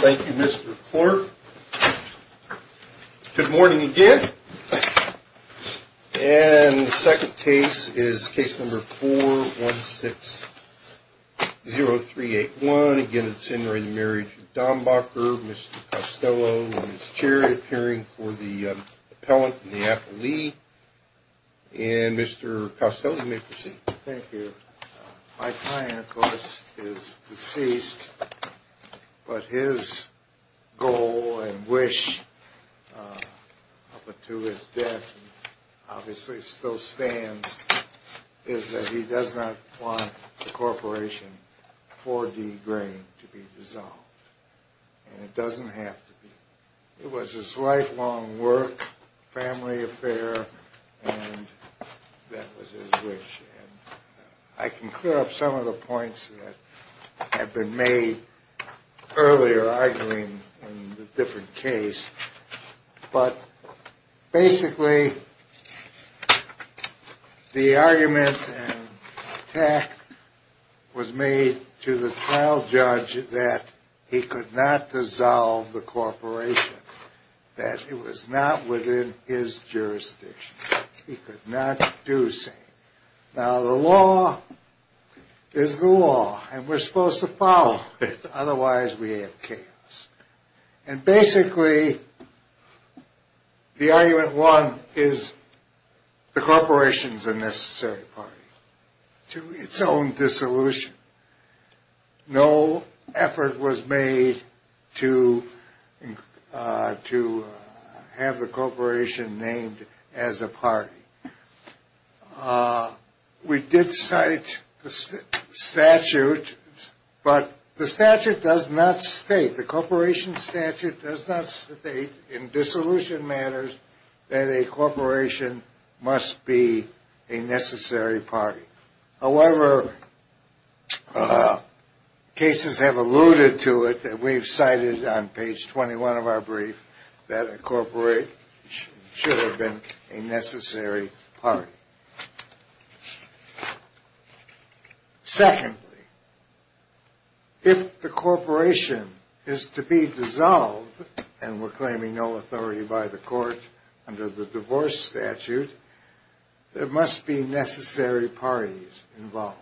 Thank you Mr. Clerk. Good morning again. And the second case is case number 4-1-6-0-3-8-1. Again, it's in re Marriage of Dambacher. Mr. Costello in his chair, appearing for the appellant in the Appellee. And Mr. Costello, you may proceed. Thank you. My client, of course, is deceased, but his goal and wish up until his death, obviously still stands, is that he does not want the Corporation for D. Green to be dissolved. And it doesn't have to be. It was his lifelong work, family affair, and that was his wish. I can clear up some of the points that have been made earlier arguing the different case. But basically, the argument and attack was made to the trial judge that he could not dissolve the Corporation, that it was not within his jurisdiction. He could not do so. Now, the law is the law, and we're supposed to follow it, otherwise we have chaos. And basically, the argument, one, is the Corporation is a necessary party to its own dissolution. No effort was made to have the Corporation named as a party. We did cite the statute, but the statute does not state, the Corporation statute does not state in dissolution matters that a Corporation must be a necessary party. However, cases have alluded to it that we've cited on page 21 of our brief that a Corporation should have been a necessary party. Secondly, if the Corporation is to be dissolved, and we're claiming no authority by the court under the divorce statute, there must be necessary parties involved.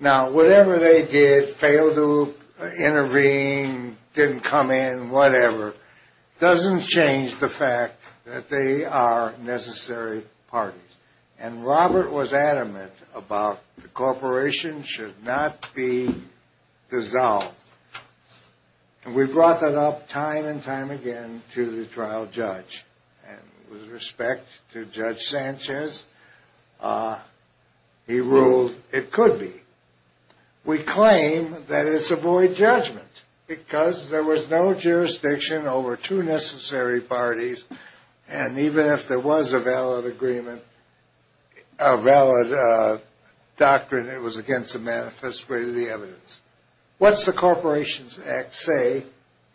Now, whatever they did, failed to intervene, didn't come in, whatever, doesn't change the fact that they are necessary parties. And Robert was adamant about the Corporation should not be dissolved. And we brought that up time and time again to the trial judge. And with respect to Judge Sanchez, he ruled it could be. We claim that it's a void judgment because there was no jurisdiction over two necessary parties. And even if there was a valid agreement, a valid doctrine, it was against the manifest way to the evidence. What's the Corporations Act say?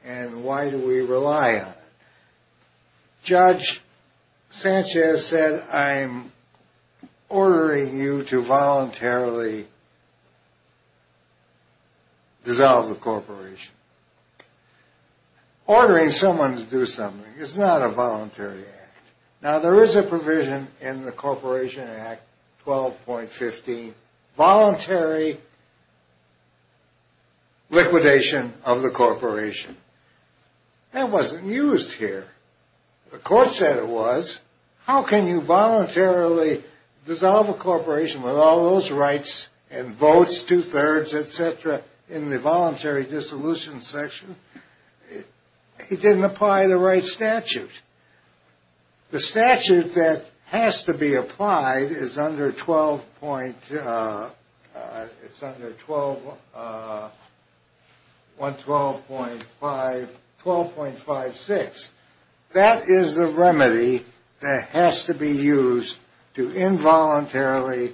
And why do we rely on it? Judge Sanchez said, I'm ordering you to voluntarily dissolve the Corporation. Ordering someone to do something is not a voluntary act. Now, there is a provision in the Corporation Act 12.15, voluntary liquidation of the Corporation. That wasn't used here. The court said it was. How can you voluntarily dissolve a Corporation with all those rights and votes, two-thirds, et cetera, in the voluntary dissolution section? He didn't apply the right statute. The statute that has to be applied is under 12.56. That is the remedy that has to be used to involuntarily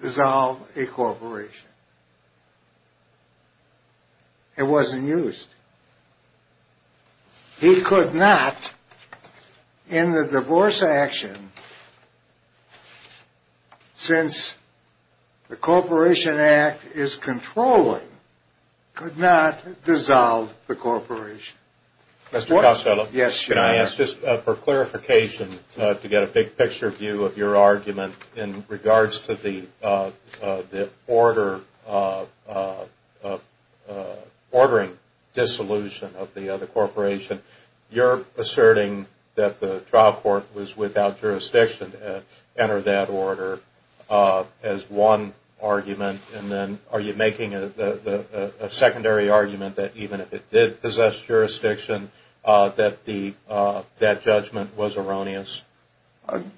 dissolve a Corporation. It wasn't used. He could not, in the divorce action, since the Corporation Act is controlling, could not dissolve the Corporation. Mr. Costello, can I ask, just for clarification, to get a big picture view of your argument in regards to the ordering dissolution of the Corporation. You're asserting that the trial court was without jurisdiction to enter that order as one argument. And then are you making a secondary argument that even if it did possess jurisdiction, that that judgment was erroneous?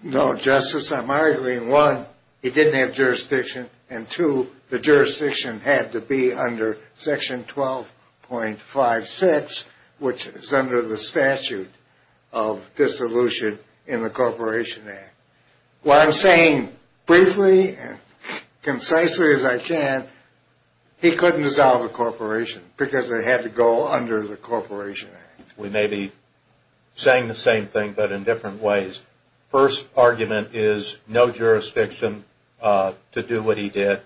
No, Justice. I'm arguing, one, it didn't have jurisdiction, and two, the jurisdiction had to be under section 12.56, which is under the statute of dissolution in the Corporation Act. What I'm saying briefly and concisely as I can, he couldn't dissolve a Corporation because it had to go under the Corporation Act. We may be saying the same thing, but in different ways. First argument is no jurisdiction to do what he did.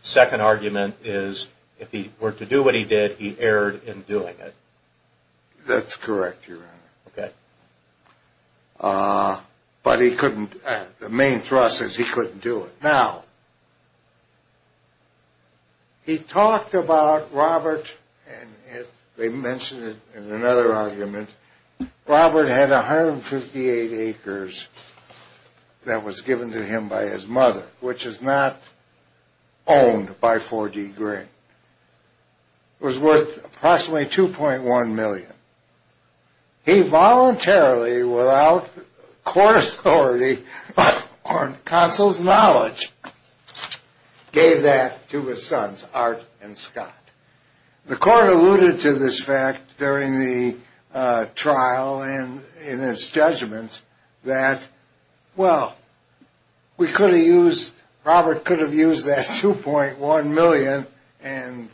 Second argument is if he were to do what he did, he erred in doing it. That's correct, Your Honor. But he couldn't, the main thrust is he couldn't do it. Now, he talked about Robert, and they mentioned it in another argument, Robert had 158 acres that was given to him by his mother, which is not owned by 4D Green. It was worth approximately 2.1 million. He voluntarily, without court authority or counsel's knowledge, gave that to his sons, Art and Scott. The court alluded to this fact during the trial and in its judgment that, well, we could have used, Robert could have used that 2.1 million and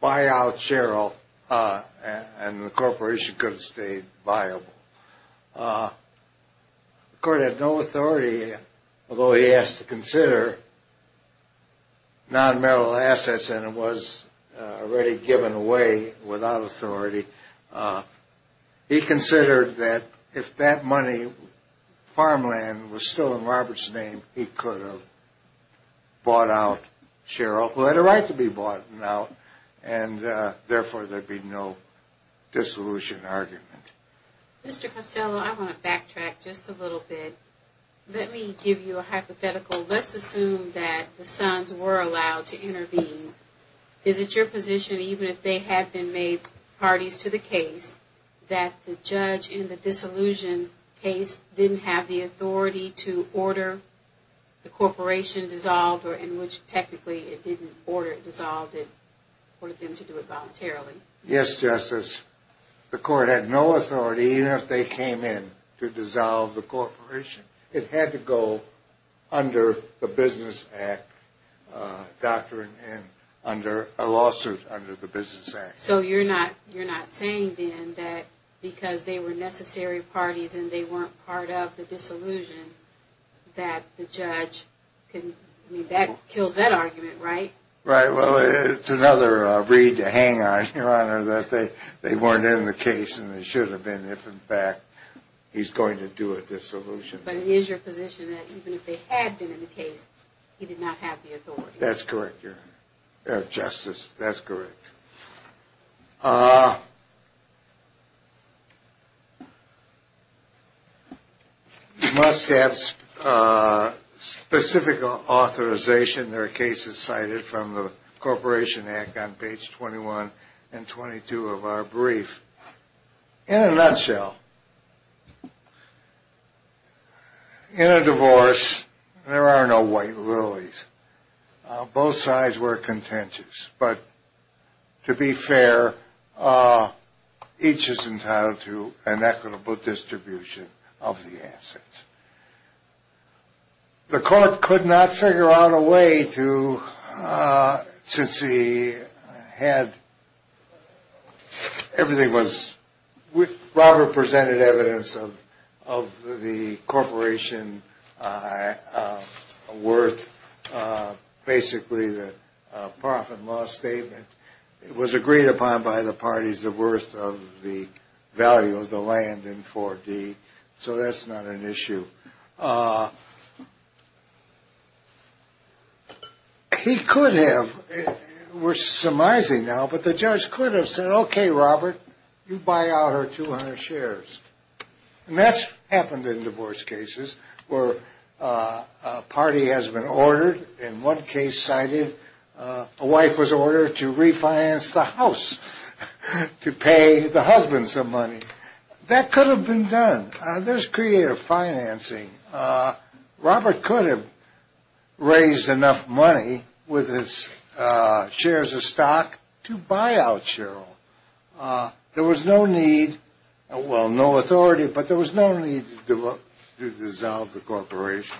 buy out Cheryl, and the Corporation could have stayed viable. The court had no authority, although he asked to consider non-marital assets, and it was already given away without authority. He considered that if that money, farmland, was still in Robert's name, he could have bought out Cheryl, who had a right to be bought out, and therefore there'd be no dissolution argument. Mr. Costello, I want to backtrack just a little bit. Let me give you a hypothetical. Let's assume that the sons were allowed to intervene. Is it your position, even if they had been made parties to the case, that the judge in the dissolution case didn't have the authority to order the Corporation dissolved, or in which technically it didn't order it dissolved, it ordered them to do it voluntarily? Yes, Justice. The court had no authority, even if they came in to dissolve the Corporation. It had to go under the Business Act doctrine, under a lawsuit under the Business Act. So you're not saying, then, that because they were necessary parties and they weren't part of the dissolution, that the judge, I mean, that kills that argument, right? Right. Well, it's another read to hang on, Your Honor, that they weren't in the case and they should have been if, in fact, he's going to do a dissolution. But it is your position that even if they had been in the case, he did not have the authority? That's correct, Your Honor. Justice, that's correct. Must have specific authorization. There are cases cited from the Corporation Act on page 21 and 22 of our brief. In a nutshell, in a divorce, there are no white lilies. Both sides were contentious, but to be fair, each is entitled to an equitable distribution of the assets. The court could not figure out a way to, since he had, everything was, Robert presented evidence of the Corporation worth, basically the profit loss statement. It was agreed upon by the parties, the worth of the value of the land in 4D. So that's not an issue. He could have, we're surmising now, but the judge could have said, okay, Robert, you buy out her 200 shares. And that's happened in divorce cases where a party has been ordered, in one case cited, a wife was ordered to refinance the house to pay the husband some money. That could have been done. There's creative financing. Robert could have raised enough money with his shares of stock to buy out Cheryl. There was no need, well, no authority, but there was no need to dissolve the Corporation.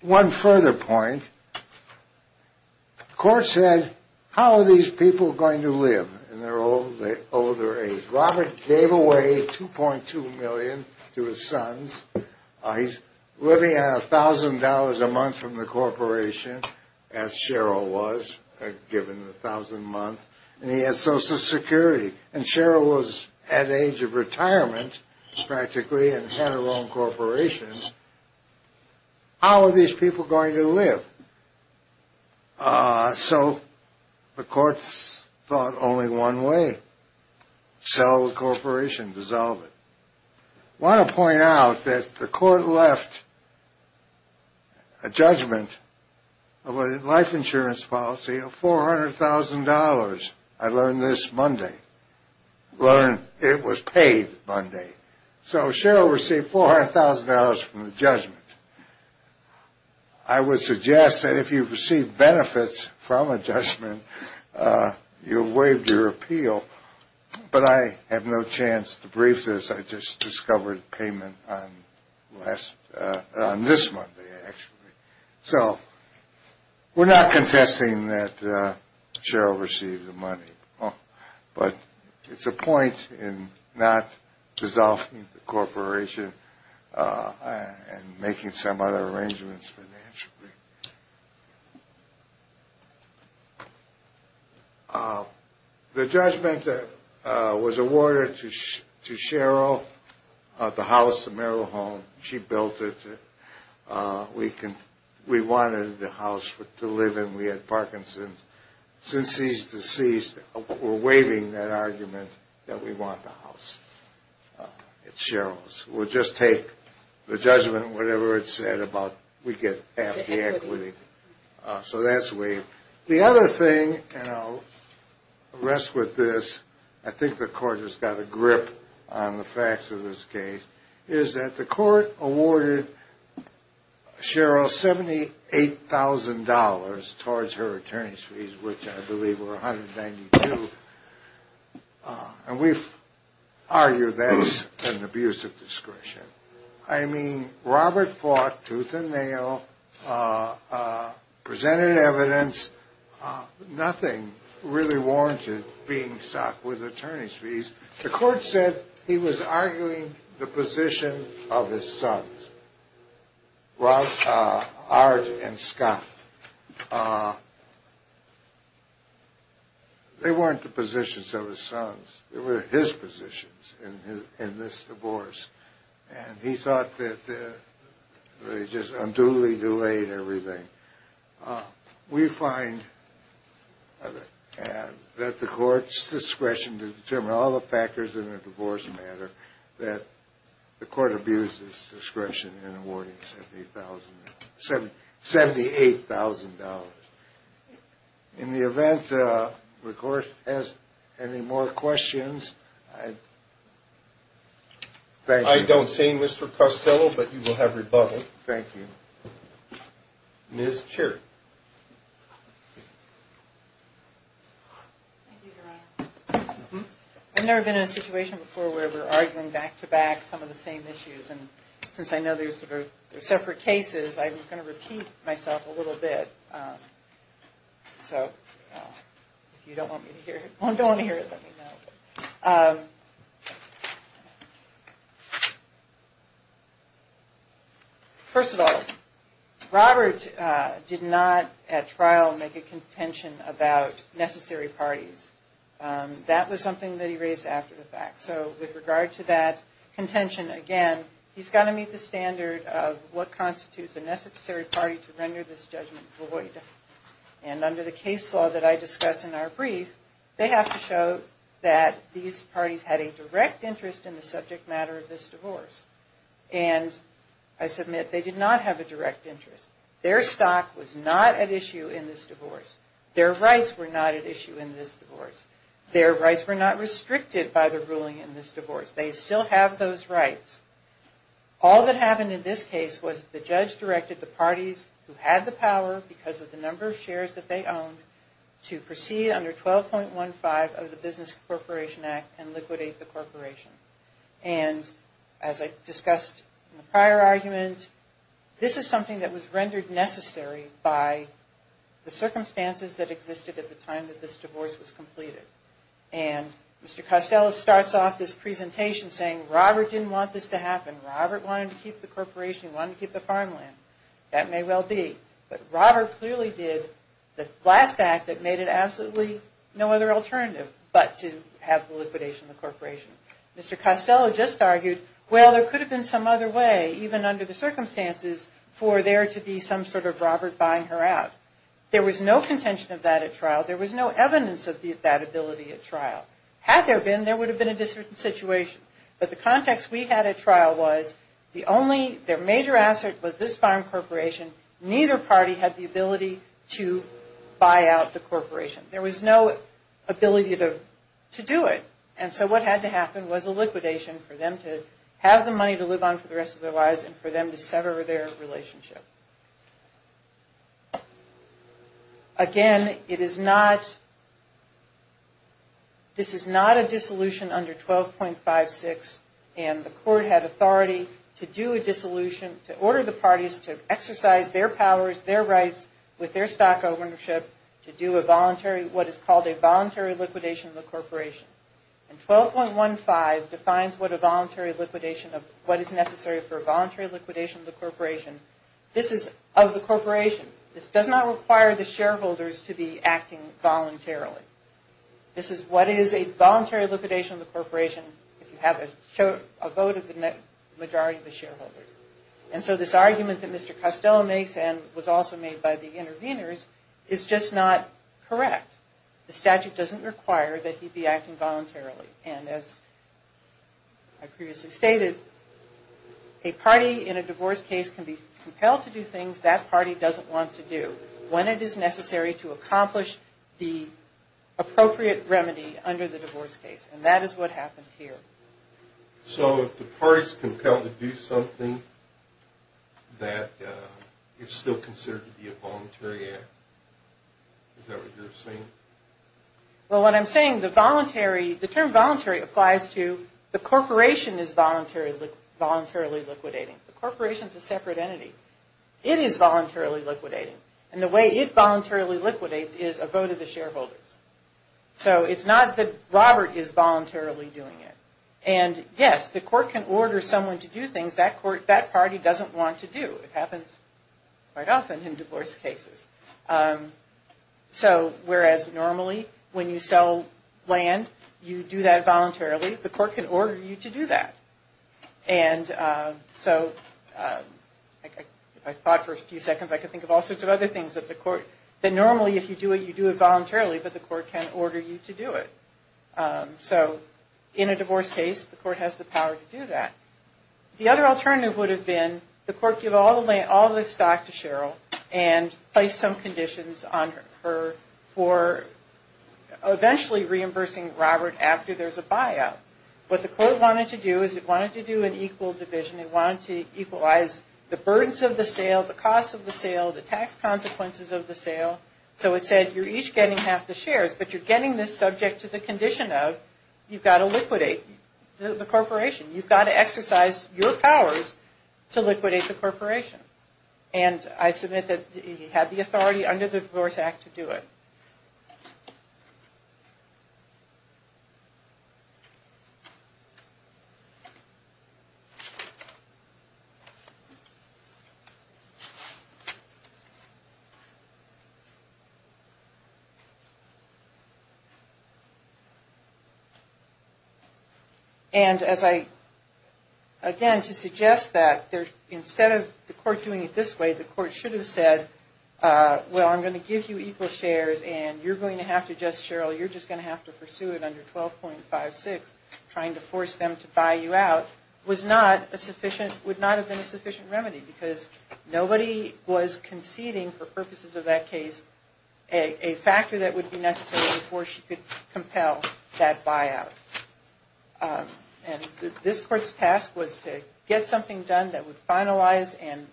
One further point, the court said, how are these people going to live in their old age? Robert gave away $2.2 million to his sons. He's living on $1,000 a month from the Corporation, as Cheryl was given $1,000 a month, and he has Social Security. And Cheryl was at age of retirement, practically, and had her own Corporation. How are these people going to live? So the courts thought only one way, sell the Corporation, dissolve it. I want to point out that the court left a judgment of a life insurance policy of $400,000, I learned this Monday. It was paid Monday. So Cheryl received $400,000 from the judgment. I would suggest that if you receive benefits from a judgment, you waive your appeal, but I have no chance to brief this. I just discovered payment on this Monday, actually. So we're not contesting that Cheryl received the money, but it's a point in not dissolving the Corporation and making some other arrangements financially. The judgment was awarded to Cheryl, the house, the Merrill home. She built it. We wanted the house to live in. We had Parkinson's. Since she's deceased, we're waiving that argument that we want the house. It's Cheryl's. We'll just take the judgment, whatever it said, we get half the equity. So that's waived. The other thing, and I'll rest with this, I think the court has got a grip on the facts of this case, is that the court awarded Cheryl $78,000 towards her attorney's fees, which I believe were $192,000. And we've argued that it's an abuse of discretion. I mean, Robert fought tooth and nail, presented evidence. Nothing really warranted being stopped with attorney's fees. The court said he was arguing the position of his sons, Art and Scott. They weren't the positions of his sons. They were his positions in this divorce. And he thought that they just unduly delayed everything. We find that the court's discretion to determine all the factors in a divorce matter, that the court abused its discretion in awarding $78,000. In the event the court has any more questions, I don't see Mr. Costello, but you will have rebuttal. Thank you. Ms. Cherry. Thank you, Your Honor. I've never been in a situation before where we're arguing back to back some of the same issues. And since I know they're separate cases, I'm going to repeat myself a little bit. So if you don't want to hear it, let me know. First of all, Robert did not, at trial, make a contention about necessary parties. That was something that he raised after the fact. So with regard to that contention, again, he's got to meet the standard of what constitutes a necessary party to render this judgment void. And under the case law that I discuss in our brief, they have to show that these parties had a direct interest in the subject matter of this divorce. And I submit they did not have a direct interest. Their stock was not at issue in this divorce. Their rights were not at issue in this divorce. Their rights were not restricted by the ruling in this divorce. They still have those rights. All that happened in this case was the judge directed the parties who had the power because of the number of shares that they owned to proceed under 12.15 of the Business Corporation Act and liquidate the corporation. And as I discussed in the prior argument, this is something that was rendered necessary by the circumstances that existed at the time that this divorce was completed. And Mr. Costello starts off this presentation saying Robert didn't want this to happen. Robert wanted to keep the corporation. He wanted to keep the farmland. That may well be. But Robert clearly did the last act that made it absolutely no other alternative but to have the liquidation of the corporation. Mr. Costello just argued, well, there could have been some other way even under the circumstances for there to be some sort of Robert buying her out. There was no contention of that at trial. There was no evidence of that ability at trial. Had there been, there would have been a different situation. But the context we had at trial was the only, their major asset was this farm corporation. Neither party had the ability to buy out the corporation. There was no ability to do it. And so what had to happen was a liquidation for them to have the money to live on for the rest of their lives and for them to sever their relationship. Again, it is not, this is not a dissolution under 12.56 and the court had authority to do a dissolution, to order the parties to exercise their powers, their rights with their stock ownership to do a voluntary, what is called a voluntary liquidation of the corporation. And 12.15 defines what a voluntary liquidation of, what is necessary for a voluntary liquidation of the corporation. This is of the corporation. This does not require the shareholders to be acting voluntarily. This is what is a voluntary liquidation of the corporation if you have a vote of the majority of the shareholders. And so this argument that Mr. Costello makes and was also made by the interveners is just not correct. The statute doesn't require that he be acting voluntarily. And as I previously stated, a party in a divorce case can be compelled to do things that party doesn't want to do when it is necessary to accomplish the appropriate remedy under the divorce case. And that is what happened here. So if the party is compelled to do something that is still considered to be a voluntary act, is that what you're saying? Well, what I'm saying, the voluntary, the term voluntary applies to the corporation is voluntarily liquidating. The corporation is a separate entity. It is voluntarily liquidating. And the way it voluntarily liquidates is a vote of the shareholders. So it's not that Robert is voluntarily doing it. And yes, the court can order someone to do things that court, that party doesn't want to do. It happens quite often in divorce cases. So whereas normally when you sell land, you do that voluntarily, the court can order you to do that. And so I thought for a few seconds, I could think of all sorts of other things that the court, that normally if you do it, you do it voluntarily. But the court can order you to do it. So in a divorce case, the court has the power to do that. The other alternative would have been the court give all the stock to Cheryl and place some conditions on her for eventually reimbursing Robert after there's a buyout. What the court wanted to do is it wanted to do an equal division. It wanted to equalize the burdens of the sale, the cost of the sale, the tax consequences of the sale. So it said you're each getting half the shares, but you're getting this subject to the condition of you've got to liquidate the corporation. You've got to exercise your powers to liquidate the corporation. And I submit that he had the authority under the Divorce Act to do it. And as I, again, to suggest that instead of the court doing it this way, the court should have said, well, I'm going to give you equal shares and you're going to have to just, Cheryl, you're just going to have to pursue it under 12.56. Trying to force them to buy you out was not a sufficient, would not have been a sufficient remedy because nobody was conceding for purposes of that case a factor that would be necessary before she could compel that buyout. And this court's task was to get something done that would finalize and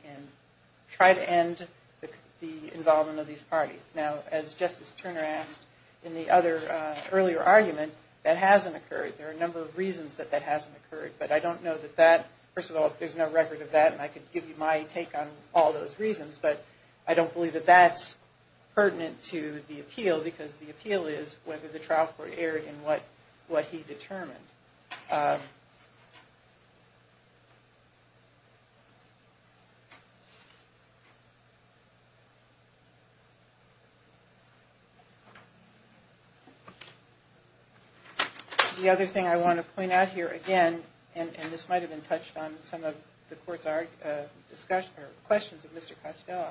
try to end the involvement of these parties. Now, as Justice Turner asked in the other earlier argument, that hasn't occurred. There are a number of reasons that that hasn't occurred. But I don't know that that, first of all, there's no record of that, and I could give you my take on all those reasons. But I don't believe that that's pertinent to the appeal because the appeal is whether the trial court erred in what he determined. The other thing I want to point out here, again, and this might have been touched on in some of the court's questions of Mr. Costello.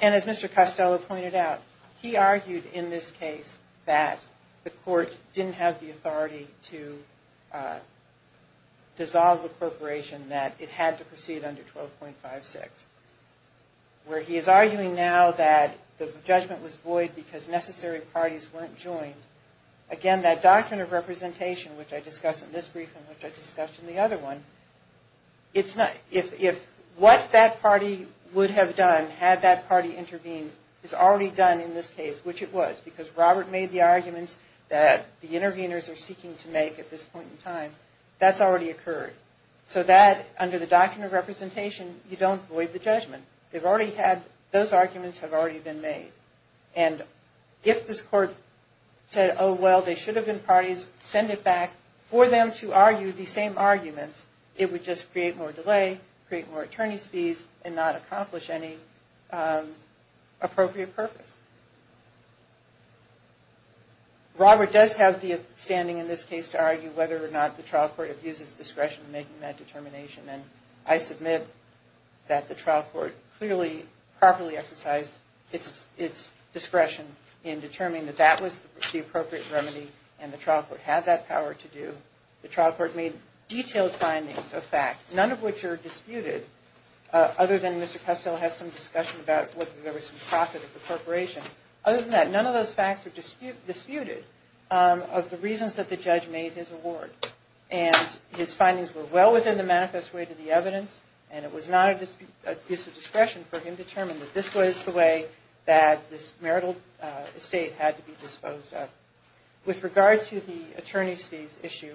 And as Mr. Costello pointed out, he argued in this case that the court didn't have the authority to dissolve the corporation, that it had to proceed under 12.56, where he is arguing now that the judgment was void because necessary parties weren't joined. Again, that doctrine of representation, which I discussed in this brief and which I discussed in the other one, if what that party would have done had that party intervened is already done in this case, which it was, because Robert made the arguments that the interveners are seeking to make at this point in time, that's already occurred. So that, under the doctrine of representation, you don't void the judgment. They've already had, those arguments have already been made. And if this court said, oh, well, they should have been parties, send it back, for them to argue the same arguments, it would just create more delay, create more attorney's fees, and not accomplish any appropriate purpose. Robert does have the standing in this case to argue whether or not the trial court abuses discretion in making that determination. And I submit that the trial court clearly, properly exercised its discretion in determining that that was the appropriate remedy and the trial court had that power to do. The trial court made detailed findings of fact, none of which are disputed, other than Mr. Kustel has some discussion about whether there was some profit of the corporation. Other than that, none of those facts are disputed of the reasons that the judge made his award. And his findings were well within the manifest way to the evidence, and it was not an abuse of discretion for him to determine that this was the way that this marital estate had to be disposed of. With regard to the attorney's fees issue,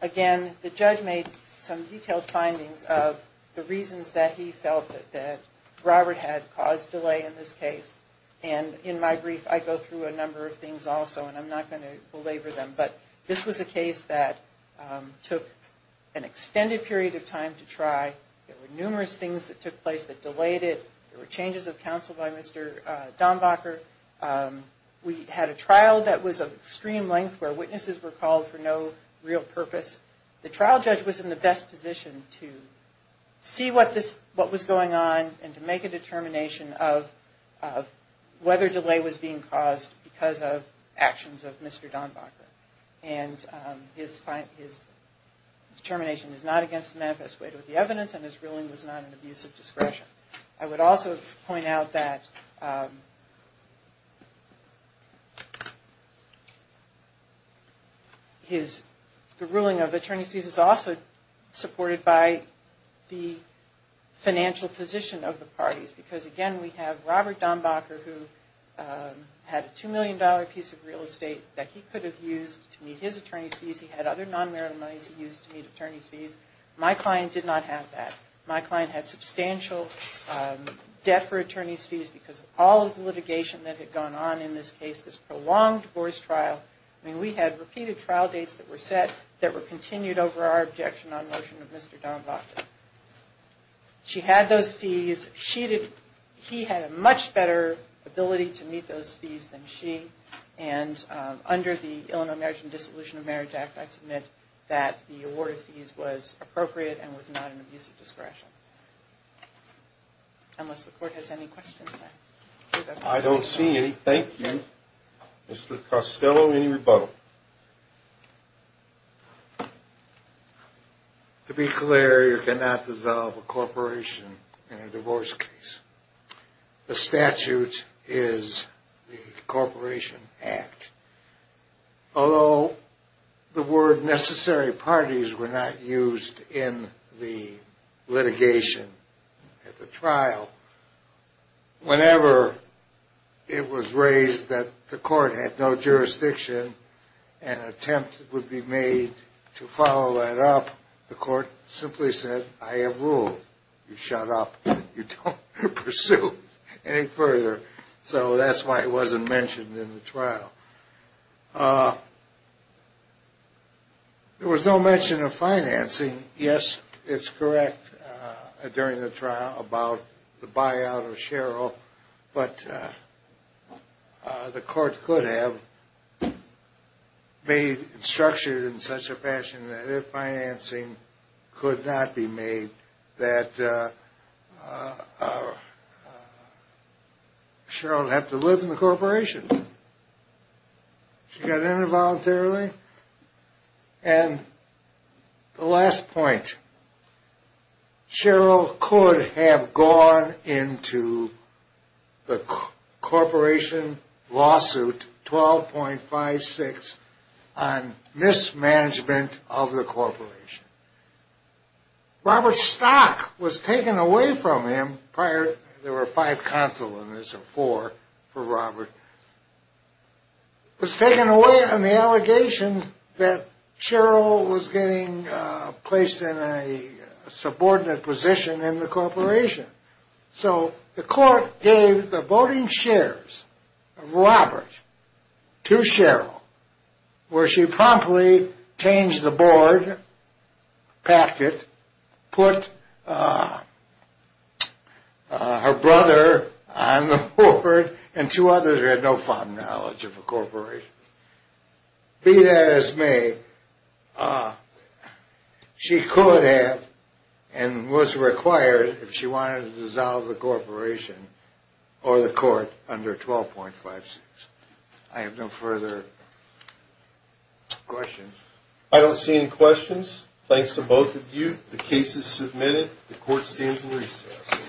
again, the judge made some detailed findings of the reasons that he felt that Robert had caused delay in this case. And in my brief, I go through a number of things also, and I'm not going to belabor them. But this was a case that took an extended period of time to try. There were numerous things that took place that delayed it. There were changes of counsel by Mr. Dombacher. We had a trial that was of extreme length where witnesses were called for no real purpose. The trial judge was in the best position to see what was going on and to make a determination of whether delay was being caused because of actions of Mr. Dombacher. And his determination is not against the manifest way to the evidence, and his ruling was not an abuse of discretion. I would also point out that the ruling of attorney's fees is also supported by the financial position of the parties. Because, again, we have Robert Dombacher who had a $2 million piece of real estate that he could have used to meet his attorney's fees. He had other non-marital monies he used to meet attorney's fees. My client did not have that. My client had substantial debt for attorney's fees because of all of the litigation that had gone on in this case, this prolonged divorce trial. I mean, we had repeated trial dates that were set that were continued over our objection on motion of Mr. Dombacher. She had those fees. He had a much better ability to meet those fees than she. And under the Illinois Marriage and Dissolution of Marriage Act, I submit that the award of fees was appropriate and was not an abuse of discretion. Unless the court has any questions. I don't see anything. Mr. Costello, any rebuttal? To be clear, you cannot dissolve a corporation in a divorce case. The statute is the Corporation Act. Although the word necessary parties were not used in the litigation at the trial, whenever it was raised that the court had no jurisdiction, an attempt would be made to follow that up, the court simply said, I have ruled. You shut up. You don't pursue any further. So that's why it wasn't mentioned in the trial. There was no mention of financing. And yes, it's correct during the trial about the buyout of Cheryl, but the court could have made it structured in such a fashion that if financing could not be made, that Cheryl would have to live in the corporation. And the last point. Cheryl could have gone into the corporation lawsuit 12.56 on mismanagement of the corporation. Robert Stock was taken away from him. Prior, there were five consulants or four for Robert. Was taken away on the allegation that Cheryl was getting placed in a subordinate position in the corporation. So the court gave the voting shares of Robert to Cheryl, where she promptly changed the board packet, put her brother on the board, and two others who had no fond knowledge of the corporation. Be that as may, she could have and was required if she wanted to dissolve the corporation or the court under 12.56. I have no further questions. I don't see any questions. Thanks to both of you. The case is submitted. The court stands in recess.